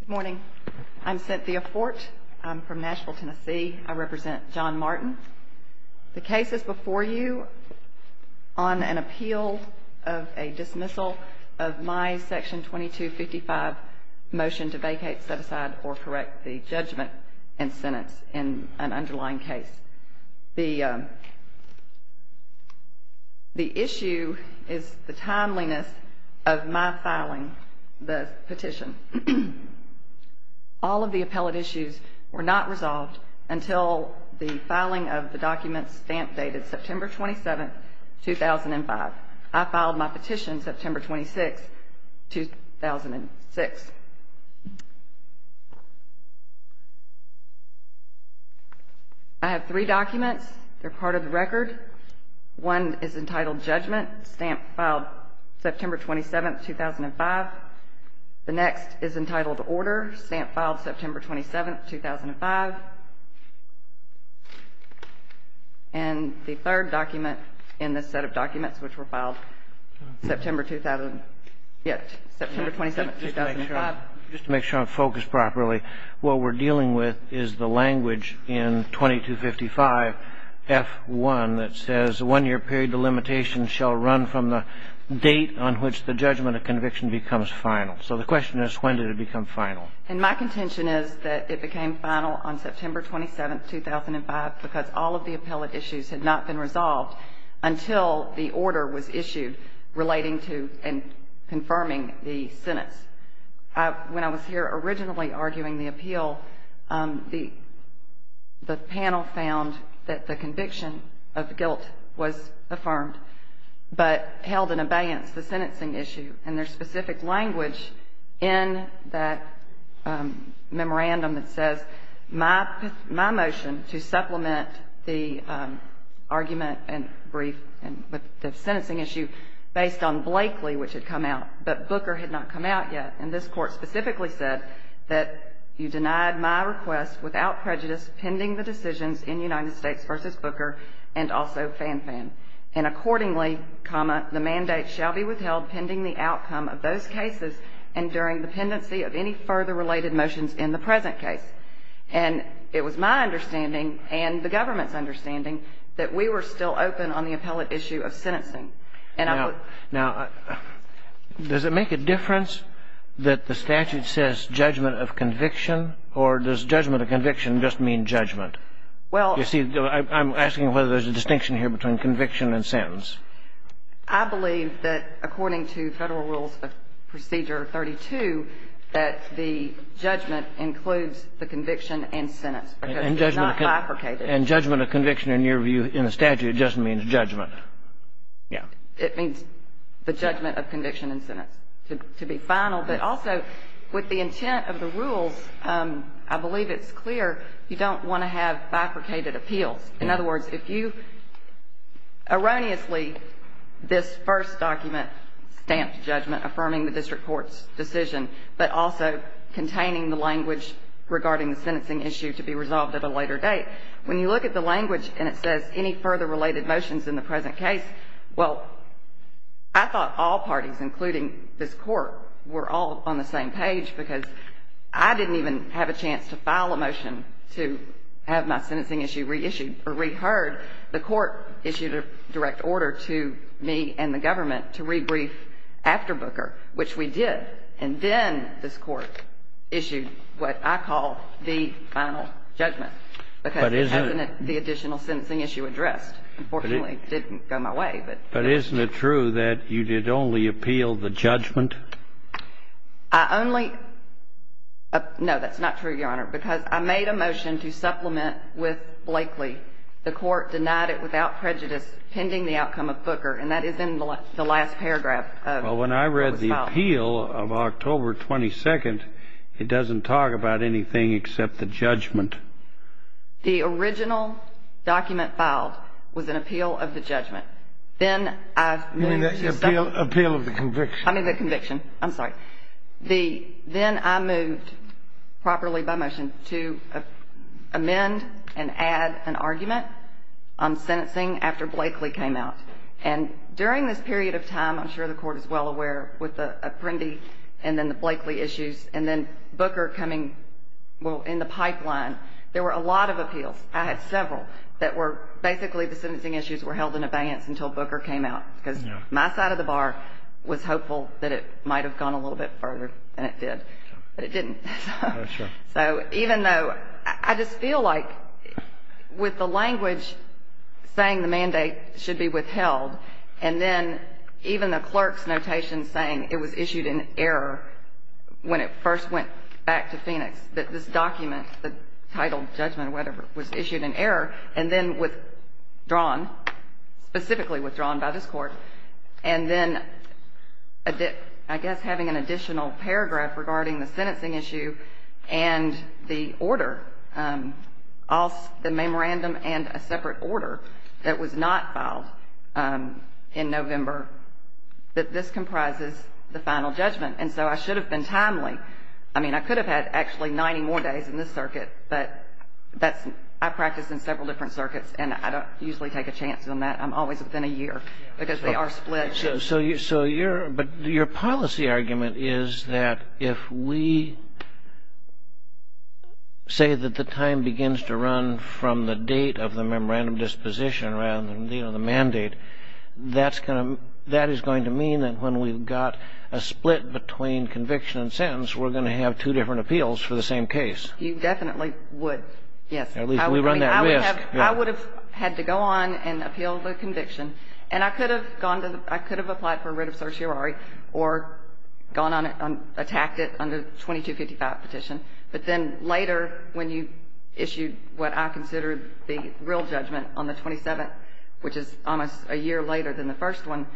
Good morning. I'm Cynthia Fort. I'm from Nashville, Tennessee. I represent John Martin. The case is before you on an appeal of a dismissal of my Section 2255 motion to vacate, set aside, or correct the judgment and sentence in an underlying case. The issue is the timeliness of my filing the petition. All of the appellate issues were not resolved until the filing of the document stamp dated September 27, 2005. I filed my petition September 26, 2006. I have three documents. They're part of the record. One is entitled Judgment, stamp filed September 27, 2005. The next is entitled Order, stamp filed September 27, 2005. And the third document in this set of documents, which were filed September 2000, yeah, September 27, 2005. Just to make sure I'm focused properly, what we're dealing with is the language in 2255 F1 that says, One year period of limitation shall run from the date on which the judgment of conviction becomes final. So the question is, when did it become final? And my contention is that it became final on September 27, 2005 because all of the appellate issues had not been resolved until the order was issued relating to and confirming the sentence. When I was here originally arguing the appeal, the panel found that the conviction of guilt was affirmed, but held in abeyance the sentencing issue and their specific language in that memorandum that says, My motion to supplement the argument and brief and the sentencing issue based on Blakely, which had come out, but Booker had not come out yet. And this court specifically said that you denied my request without prejudice pending the decisions in United States versus Booker and also Fan Fan. And accordingly, comma, the mandate shall be withheld pending the outcome of those cases and during the pendency of any further related motions in the present case. And it was my understanding and the government's understanding that we were still open on the appellate issue of sentencing. Now, does it make a difference that the statute says judgment of conviction or does judgment of conviction just mean judgment? You see, I'm asking whether there's a distinction here between conviction and sentence. I believe that according to Federal Rules of Procedure 32, that the judgment includes the conviction and sentence because it's not bifurcated. And judgment of conviction, in your view, in a statute, just means judgment. Yeah. It means the judgment of conviction and sentence, to be final. But also, with the intent of the rules, I believe it's clear you don't want to have bifurcated appeals. In other words, if you erroneously, this first document stamped judgment affirming the district court's decision, but also containing the language regarding the sentencing issue to be resolved at a later date, when you look at the language and it says any further related motions in the present case, well, I thought all parties, including this Court, were all on the same page because I didn't even have a chance to file a motion to have my sentencing issue reissued or reheard. The Court issued a direct order to me and the government to rebrief after Booker, which we did. And then this Court issued what I call the final judgment. But isn't it the additional sentencing issue addressed? Unfortunately, it didn't go my way. But isn't it true that you did only appeal the judgment? I only – no, that's not true, Your Honor, because I made a motion to supplement with Blakeley. The Court denied it without prejudice pending the outcome of Booker, and that is in the last paragraph of the file. Well, when I read the appeal of October 22nd, it doesn't talk about anything except the judgment. The original document filed was an appeal of the judgment. Then I moved to stop. You mean the appeal of the conviction. I mean the conviction. I'm sorry. Then I moved properly by motion to amend and add an argument on sentencing after Blakeley came out. And during this period of time, I'm sure the Court is well aware, with the Apprendi and then the Blakeley issues, and then Booker coming, well, in the pipeline, there were a lot of appeals. I had several that were basically the sentencing issues were held in abeyance until Booker came out, because my side of the bar was hopeful that it might have gone a little bit further, and it did. But it didn't. So even though I just feel like with the language saying the mandate should be withheld, and then even the clerk's notation saying it was issued in error when it first went back to Phoenix, that this document, the title judgment or whatever, was issued in error and then withdrawn, specifically withdrawn by this Court, and then I guess having an additional paragraph regarding the sentencing issue and the order, the memorandum and a separate order that was not filed in November, that this comprises the final judgment. And so I should have been timely. I mean, I could have had actually 90 more days in this circuit, but I practice in several different circuits, and I don't usually take a chance on that. I'm always within a year, because they are split. But your policy argument is that if we say that the time begins to run from the date of the memorandum disposition rather than, you know, the mandate, that is going to mean that when we've got a split between conviction and sentence, we're going to have two different appeals for the same case. You definitely would, yes. At least we run that risk. I would have had to go on and appeal the conviction. And I could have gone to the – I could have applied for writ of certiorari or gone on and attacked it under the 2255 petition. But then later, when you issued what I consider the real judgment on the 27th, which is almost a year later than the first one,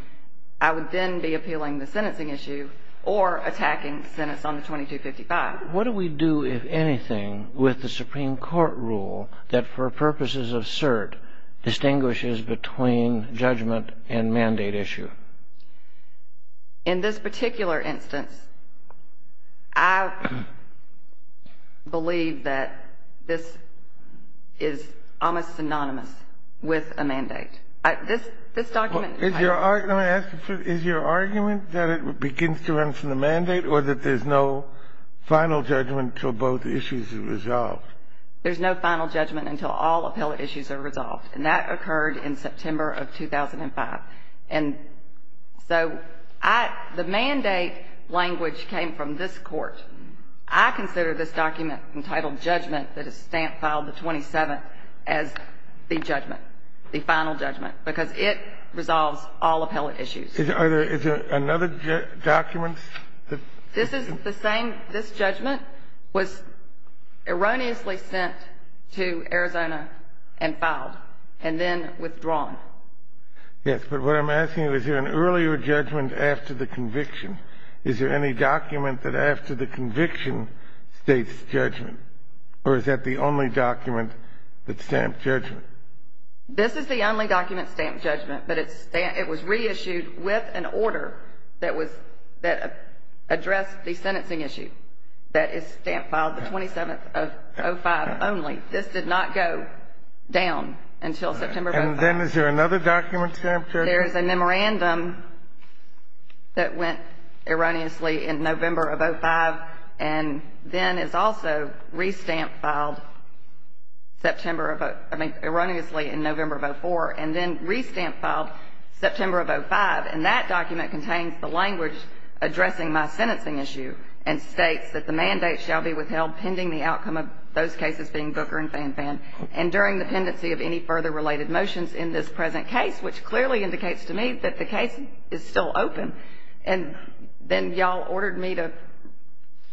I would then be appealing the sentencing issue or attacking sentence on the 2255. What do we do, if anything, with the Supreme Court rule that, for purposes of cert, distinguishes between judgment and mandate issue? In this particular instance, I believe that this is almost synonymous with a mandate. This document – Is your argument that it begins to run from the mandate, or that there's no final judgment until both issues are resolved? There's no final judgment until all appellate issues are resolved. And that occurred in September of 2005. And so I – the mandate language came from this Court. I consider this document entitled judgment that is stamp filed the 27th as the judgment, the final judgment, because it resolves all appellate issues. Is there another document that – This is the same – this judgment was erroneously sent to Arizona and filed and then withdrawn. Yes. But what I'm asking, is there an earlier judgment after the conviction? Is there any document that after the conviction states judgment, or is that the only document that's stamped judgment? This is the only document stamped judgment, but it was reissued with an order that addressed the sentencing issue that is stamp filed the 27th of 2005 only. This did not go down until September 2005. And then is there another document stamped judgment? There is a memorandum that went erroneously in November of 2005 and then is also re-stamped filed September of – I mean erroneously in November of 2004 and then re-stamped filed September of 2005. And that document contains the language addressing my sentencing issue and states that the mandate shall be withheld pending the outcome of those cases being Booker and Fanfan. And during the pendency of any further related motions in this present case, which clearly indicates to me that the case is still open, and then y'all ordered me to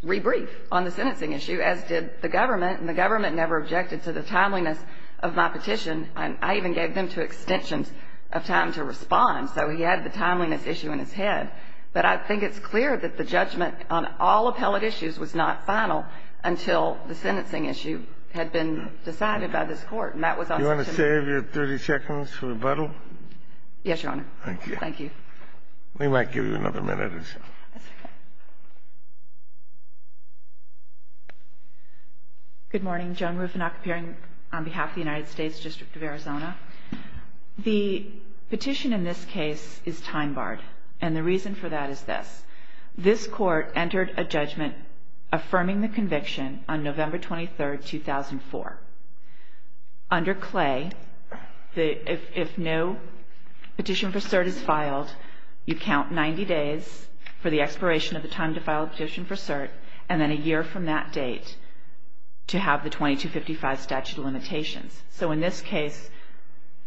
re-brief on the sentencing issue, as did the government, and the government never objected to the timeliness of my petition. I even gave them two extensions of time to respond, so he had the timeliness issue in his head. But I think it's clear that the judgment on all appellate issues was not final until the sentencing issue had been decided by this Court. Do you want to save your 30 seconds for rebuttal? Yes, Your Honor. Thank you. Thank you. We might give you another minute or so. That's okay. Good morning. Joan Rufenach appearing on behalf of the United States District of Arizona. The petition in this case is time-barred, and the reason for that is this. This Court entered a judgment affirming the conviction on November 23, 2004. Under Clay, if no petition for cert is filed, you count 90 days for the expiration of the time to file a petition for cert, and then a year from that date to have the 2255 statute of limitations. So in this case,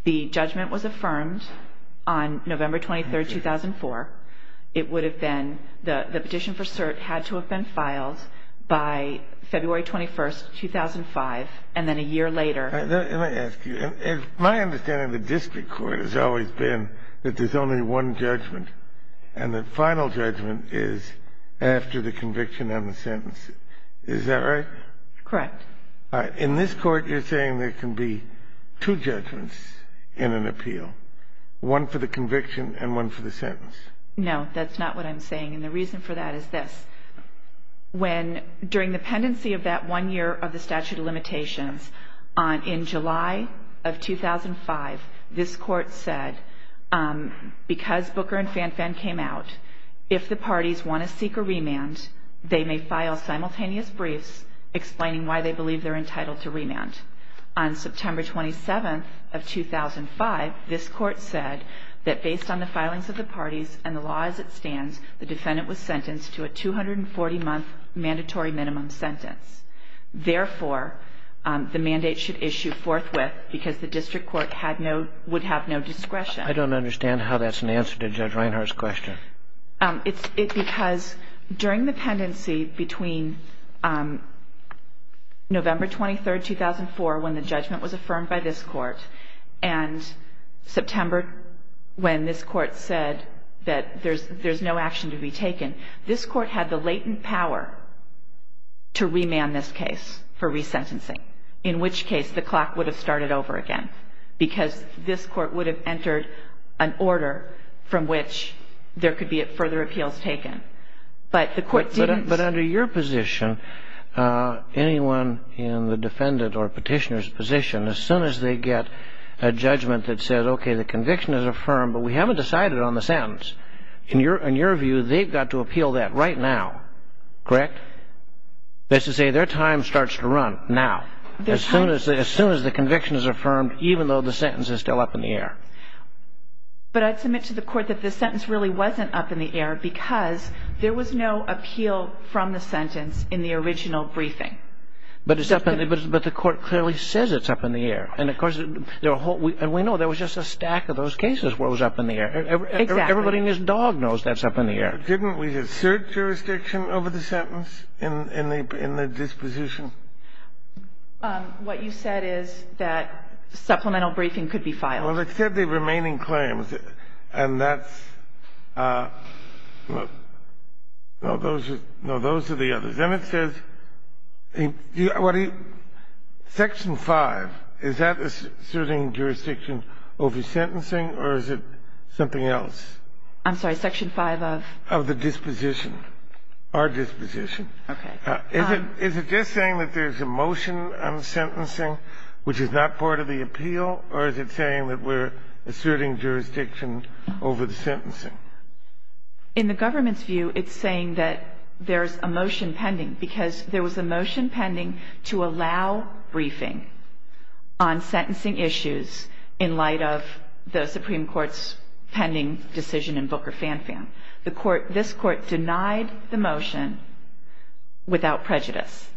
the judgment was affirmed on November 23, 2004. The petition for cert had to have been filed by February 21, 2005, and then a year later. Let me ask you. My understanding of the district court has always been that there's only one judgment, and the final judgment is after the conviction and the sentence. Is that right? Correct. All right. In this Court, you're saying there can be two judgments in an appeal, one for the conviction and one for the sentence? No, that's not what I'm saying, and the reason for that is this. During the pendency of that one year of the statute of limitations, in July of 2005, this Court said, because Booker and Fanfan came out, if the parties want to seek a remand, they may file simultaneous briefs explaining why they believe they're entitled to remand. On September 27, 2005, this Court said that based on the filings of the parties and the law as it stands, the defendant was sentenced to a 240-month mandatory minimum sentence. Therefore, the mandate should issue forthwith because the district court would have no discretion. I don't understand how that's an answer to Judge Reinhart's question. It's because during the pendency between November 23, 2004, and September, when this Court said that there's no action to be taken, this Court had the latent power to remand this case for resentencing, in which case the clock would have started over again because this Court would have entered an order from which there could be further appeals taken. But the Court didn't. But under your position, anyone in the defendant or petitioner's position, as soon as they get a judgment that says, okay, the conviction is affirmed, but we haven't decided on the sentence, in your view, they've got to appeal that right now, correct? That's to say, their time starts to run now, as soon as the conviction is affirmed, even though the sentence is still up in the air. But I'd submit to the Court that the sentence really wasn't up in the air because there was no appeal from the sentence in the original briefing. But the Court clearly says it's up in the air. And, of course, we know there was just a stack of those cases where it was up in the air. Exactly. Everybody in this dog knows that's up in the air. Didn't we assert jurisdiction over the sentence in the disposition? What you said is that supplemental briefing could be filed. Well, it said the remaining claims, and that's no, those are the others. Then it says section 5, is that asserting jurisdiction over sentencing, or is it something else? I'm sorry, section 5 of? Of the disposition, our disposition. Okay. Is it just saying that there's a motion on sentencing, which is not part of the appeal, or is it saying that we're asserting jurisdiction over the sentencing? In the government's view, it's saying that there's a motion pending because there was a motion pending to allow briefing on sentencing issues in light of the Supreme Court's pending decision in Booker-Fan-Fan. This Court denied the motion without prejudice.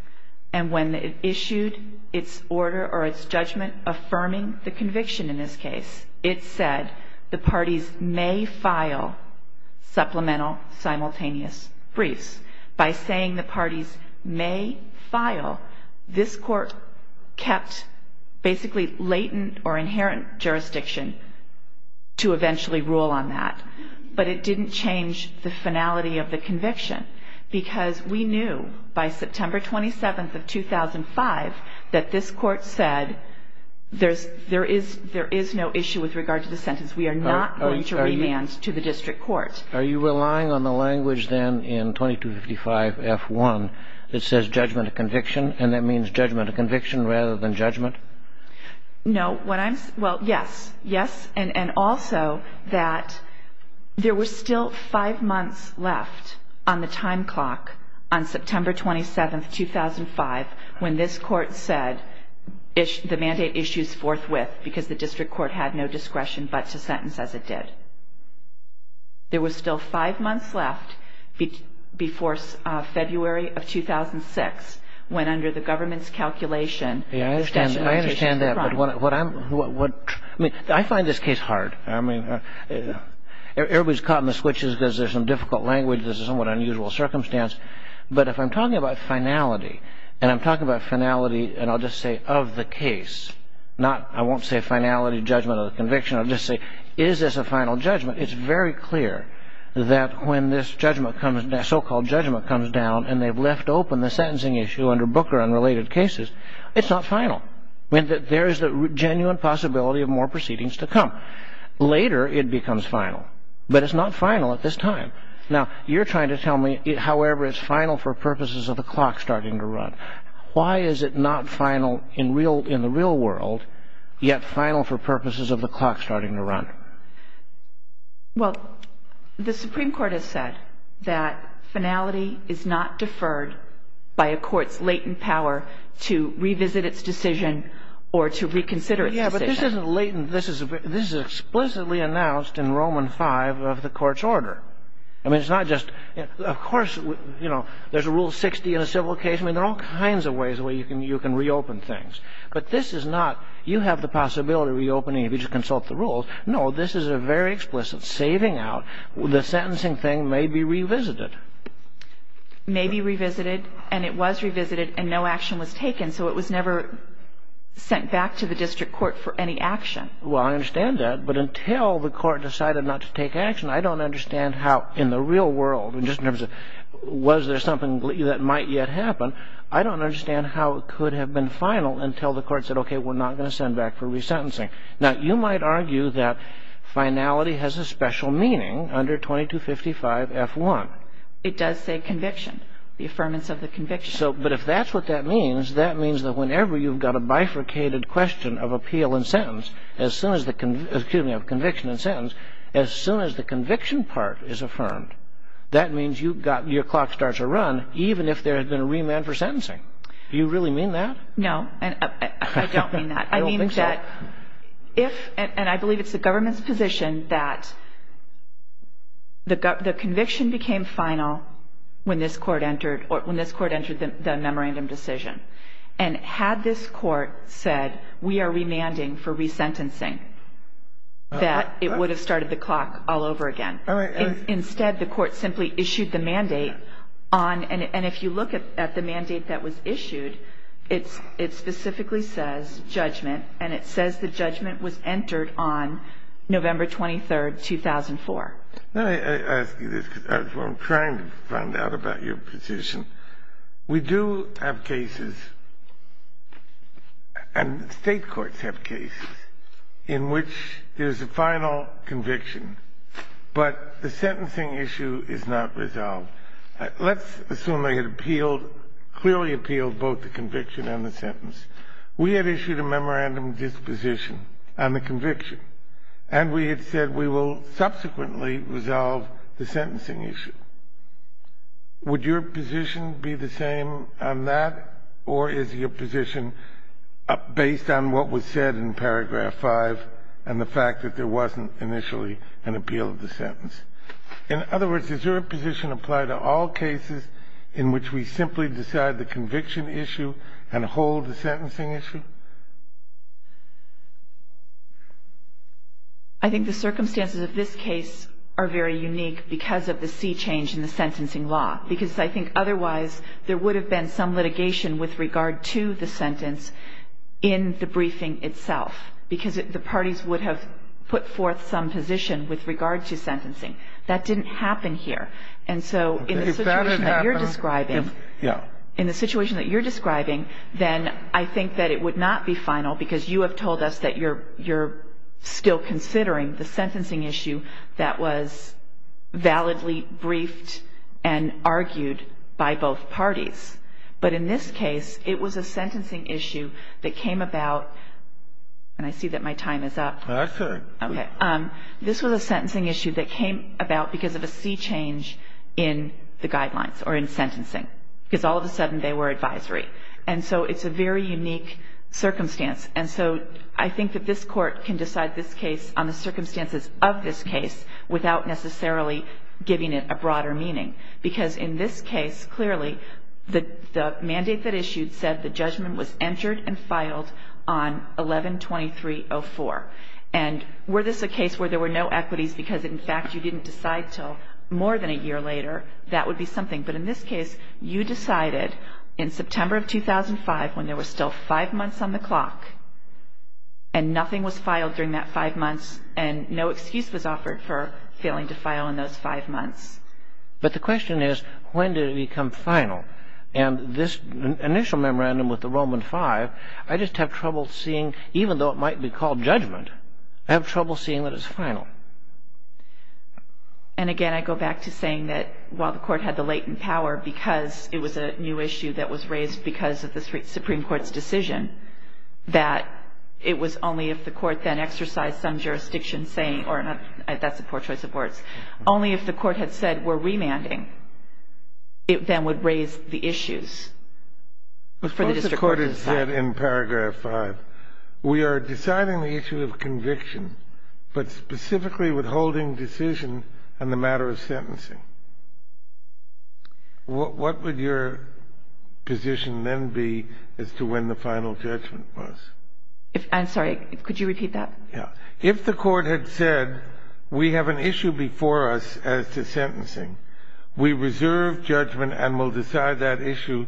And when it issued its order or its judgment affirming the conviction in this case, it said the parties may file supplemental simultaneous briefs. By saying the parties may file, this Court kept basically latent or inherent jurisdiction to eventually rule on that. But it didn't change the finality of the conviction because we knew by September 27th of 2005 that this Court said there is no issue with regard to the sentence. We are not going to remand to the district court. Are you relying on the language then in 2255-F1 that says judgment of conviction, and that means judgment of conviction rather than judgment? No. Well, yes. Yes, and also that there were still five months left on the time clock on September 27th, 2005, when this Court said the mandate issues forthwith because the district court had no discretion but to sentence as it did. There were still five months left before February of 2006 when under the government's calculation the statute of limitations was run. I understand that, but I find this case hard. I mean, everybody's caught in the switches because there's some difficult language, there's a somewhat unusual circumstance. But if I'm talking about finality, and I'm talking about finality, and I'll just say of the case, I won't say finality, judgment, or conviction. I'll just say is this a final judgment? It's very clear that when this so-called judgment comes down and they've left open the sentencing issue under Booker and related cases, it's not final. There is the genuine possibility of more proceedings to come. Later it becomes final, but it's not final at this time. Now, you're trying to tell me, however, it's final for purposes of the clock starting to run. Why is it not final in the real world, yet final for purposes of the clock starting to run? Well, the Supreme Court has said that finality is not deferred by a court's latent power to revisit its decision or to reconsider its decision. This isn't latent. This is explicitly announced in Roman V of the court's order. I mean, it's not just of course, you know, there's a Rule 60 in a civil case. I mean, there are all kinds of ways where you can reopen things. But this is not you have the possibility of reopening if you just consult the rules. No, this is a very explicit saving out. The sentencing thing may be revisited. May be revisited, and it was revisited, and no action was taken, and so it was never sent back to the district court for any action. Well, I understand that. But until the court decided not to take action, I don't understand how in the real world, and just in terms of was there something that might yet happen, I don't understand how it could have been final until the court said, okay, we're not going to send back for resentencing. Now, you might argue that finality has a special meaning under 2255F1. It does say conviction, the affirmance of the conviction. But if that's what that means, that means that whenever you've got a bifurcated question of appeal and sentence, excuse me, of conviction and sentence, as soon as the conviction part is affirmed, that means your clock starts to run even if there had been a remand for sentencing. Do you really mean that? No. I don't mean that. I don't think so. I mean that if, and I believe it's the government's position, that the conviction became final when this court entered the memorandum decision. And had this court said we are remanding for resentencing, that it would have started the clock all over again. All right. Instead, the court simply issued the mandate on, and if you look at the mandate that was issued, it specifically says judgment, and it says the judgment was entered on November 23, 2004. Let me ask you this, because I'm trying to find out about your position. We do have cases, and state courts have cases, in which there's a final conviction, but the sentencing issue is not resolved. Let's assume they had appealed, clearly appealed both the conviction and the sentence. We had issued a memorandum disposition on the conviction, and we had said we will subsequently resolve the sentencing issue. Would your position be the same on that, or is your position based on what was said in paragraph 5 and the fact that there wasn't initially an appeal of the sentence? In other words, does your position apply to all cases in which we simply decide the conviction issue and hold the sentencing issue? I think the circumstances of this case are very unique because of the sea change in the sentencing law, because I think otherwise there would have been some litigation with regard to the sentence in the briefing itself, because the parties would have put forth some position with regard to sentencing. That didn't happen here. And so in the situation that you're describing, in the situation that you're describing, then I think that it would not be final, because you have told us that you're still considering the sentencing issue that was validly briefed and argued by both parties. But in this case, it was a sentencing issue that came about, and I see that my time is up. Okay. Okay. This was a sentencing issue that came about because of a sea change in the guidelines, or in sentencing, because all of a sudden they were advisory. And so it's a very unique circumstance. And so I think that this Court can decide this case on the circumstances of this case without necessarily giving it a broader meaning, because in this case, clearly, the mandate that issued said the judgment was entered and filed on 11-2304. And were this a case where there were no equities because, in fact, you didn't decide until more than a year later, that would be something. But in this case, you decided in September of 2005 when there were still five months on the clock and nothing was filed during that five months and no excuse was offered for failing to file in those five months. But the question is, when did it become final? And this initial memorandum with the Roman V, I just have trouble seeing, even though it might be called judgment, I have trouble seeing that it's final. And, again, I go back to saying that while the Court had the latent power because it was a new issue that was raised because of the Supreme Court's decision, that it was only if the Court then exercised some jurisdiction, that's a poor choice of words, only if the Court had said we're remanding, it then would raise the issues for the district court to decide. But first the Court had said in paragraph 5, we are deciding the issue of conviction, but specifically withholding decision on the matter of sentencing. What would your position then be as to when the final judgment was? I'm sorry. Could you repeat that? Yeah. If the Court had said we have an issue before us as to sentencing, we reserve judgment and will decide that issue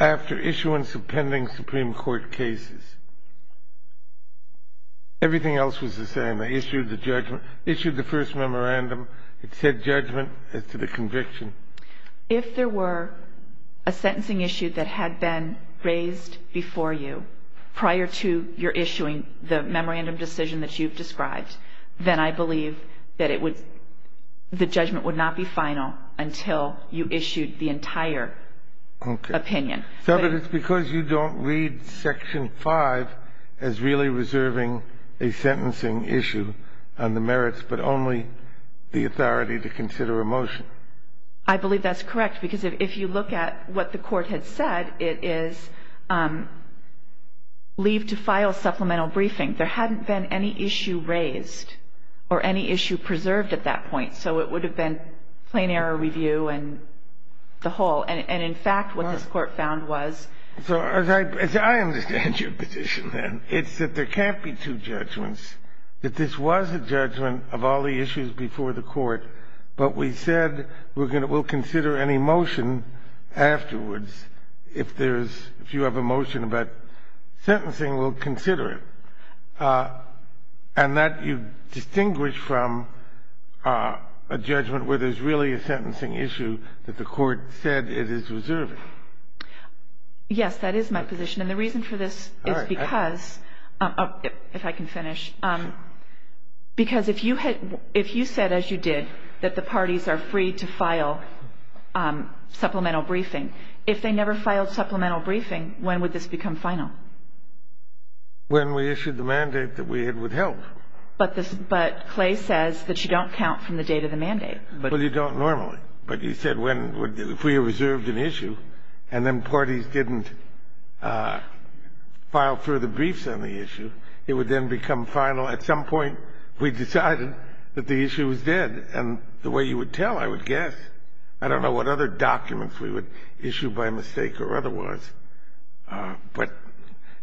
after issuance of pending Supreme Court cases. Everything else was the same. I issued the first memorandum. It said judgment as to the conviction. If there were a sentencing issue that had been raised before you, you're issuing the memorandum decision that you've described, then I believe that the judgment would not be final until you issued the entire opinion. Okay. But it's because you don't read section 5 as really reserving a sentencing issue on the merits but only the authority to consider a motion. I believe that's correct because if you look at what the Court had said, it is leave to file supplemental briefing. There hadn't been any issue raised or any issue preserved at that point, so it would have been plain error review and the whole. And, in fact, what this Court found was. So as I understand your position, then, it's that there can't be two judgments, that this was a judgment of all the issues before the Court, but we said we'll consider any motion afterwards. If you have a motion about sentencing, we'll consider it. And that you distinguish from a judgment where there's really a sentencing issue that the Court said it is reserving. Yes, that is my position. And the reason for this is because, if I can finish, because if you said, as you did, that the parties are free to file supplemental briefing, if they never filed supplemental briefing, when would this become final? When we issued the mandate that we had with help. But Clay says that you don't count from the date of the mandate. Well, you don't normally. But you said if we reserved an issue and then parties didn't file further briefs on the issue, it would then become final. At some point, we decided that the issue was dead. And the way you would tell, I would guess. I don't know what other documents we would issue by mistake or otherwise. But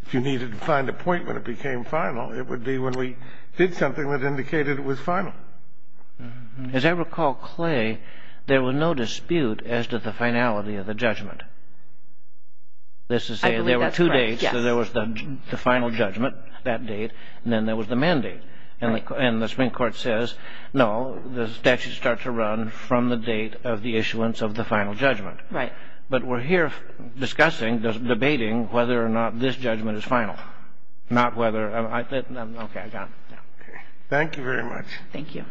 if you needed to find a point when it became final, it would be when we did something that indicated it was final. As I recall, Clay, there was no dispute as to the finality of the judgment. I believe that's correct. There were two dates. So there was the final judgment, that date, and then there was the mandate. And the Supreme Court says, no, the statute starts to run from the date of the issuance of the final judgment. Right. But we're here discussing, debating whether or not this judgment is final. Not whether. Okay, I got it. Thank you very much. Thank you.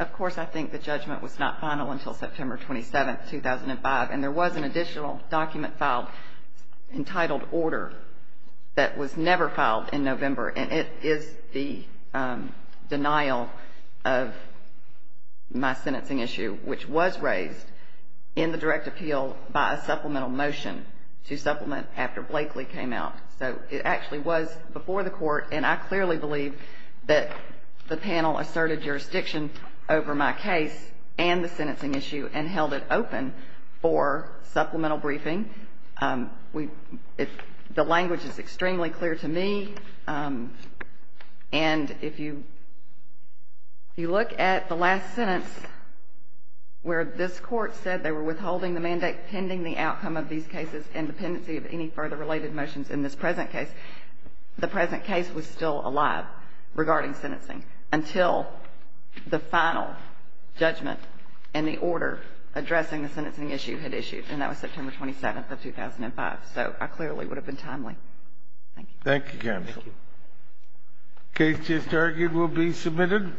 Of course, I think the judgment was not final until September 27, 2005, and there was an additional document filed entitled order that was never filed in November, and it is the denial of my sentencing issue, which was raised in the direct appeal by a supplemental motion to supplement after Blakely came out. So it actually was before the court, and I clearly believe that the panel asserted jurisdiction over my case and the sentencing issue and held it open for supplemental briefing. The language is extremely clear to me, and if you look at the last sentence where this court said they were withholding the mandate pending the outcome of these cases and dependency of any further related motions in this present case, the present case was still alive regarding sentencing until the final judgment and the order addressing the sentencing issue had issued, and that was September 27, 2005. So I clearly would have been timely. Thank you. Thank you, counsel. Thank you. The case just argued will be submitted.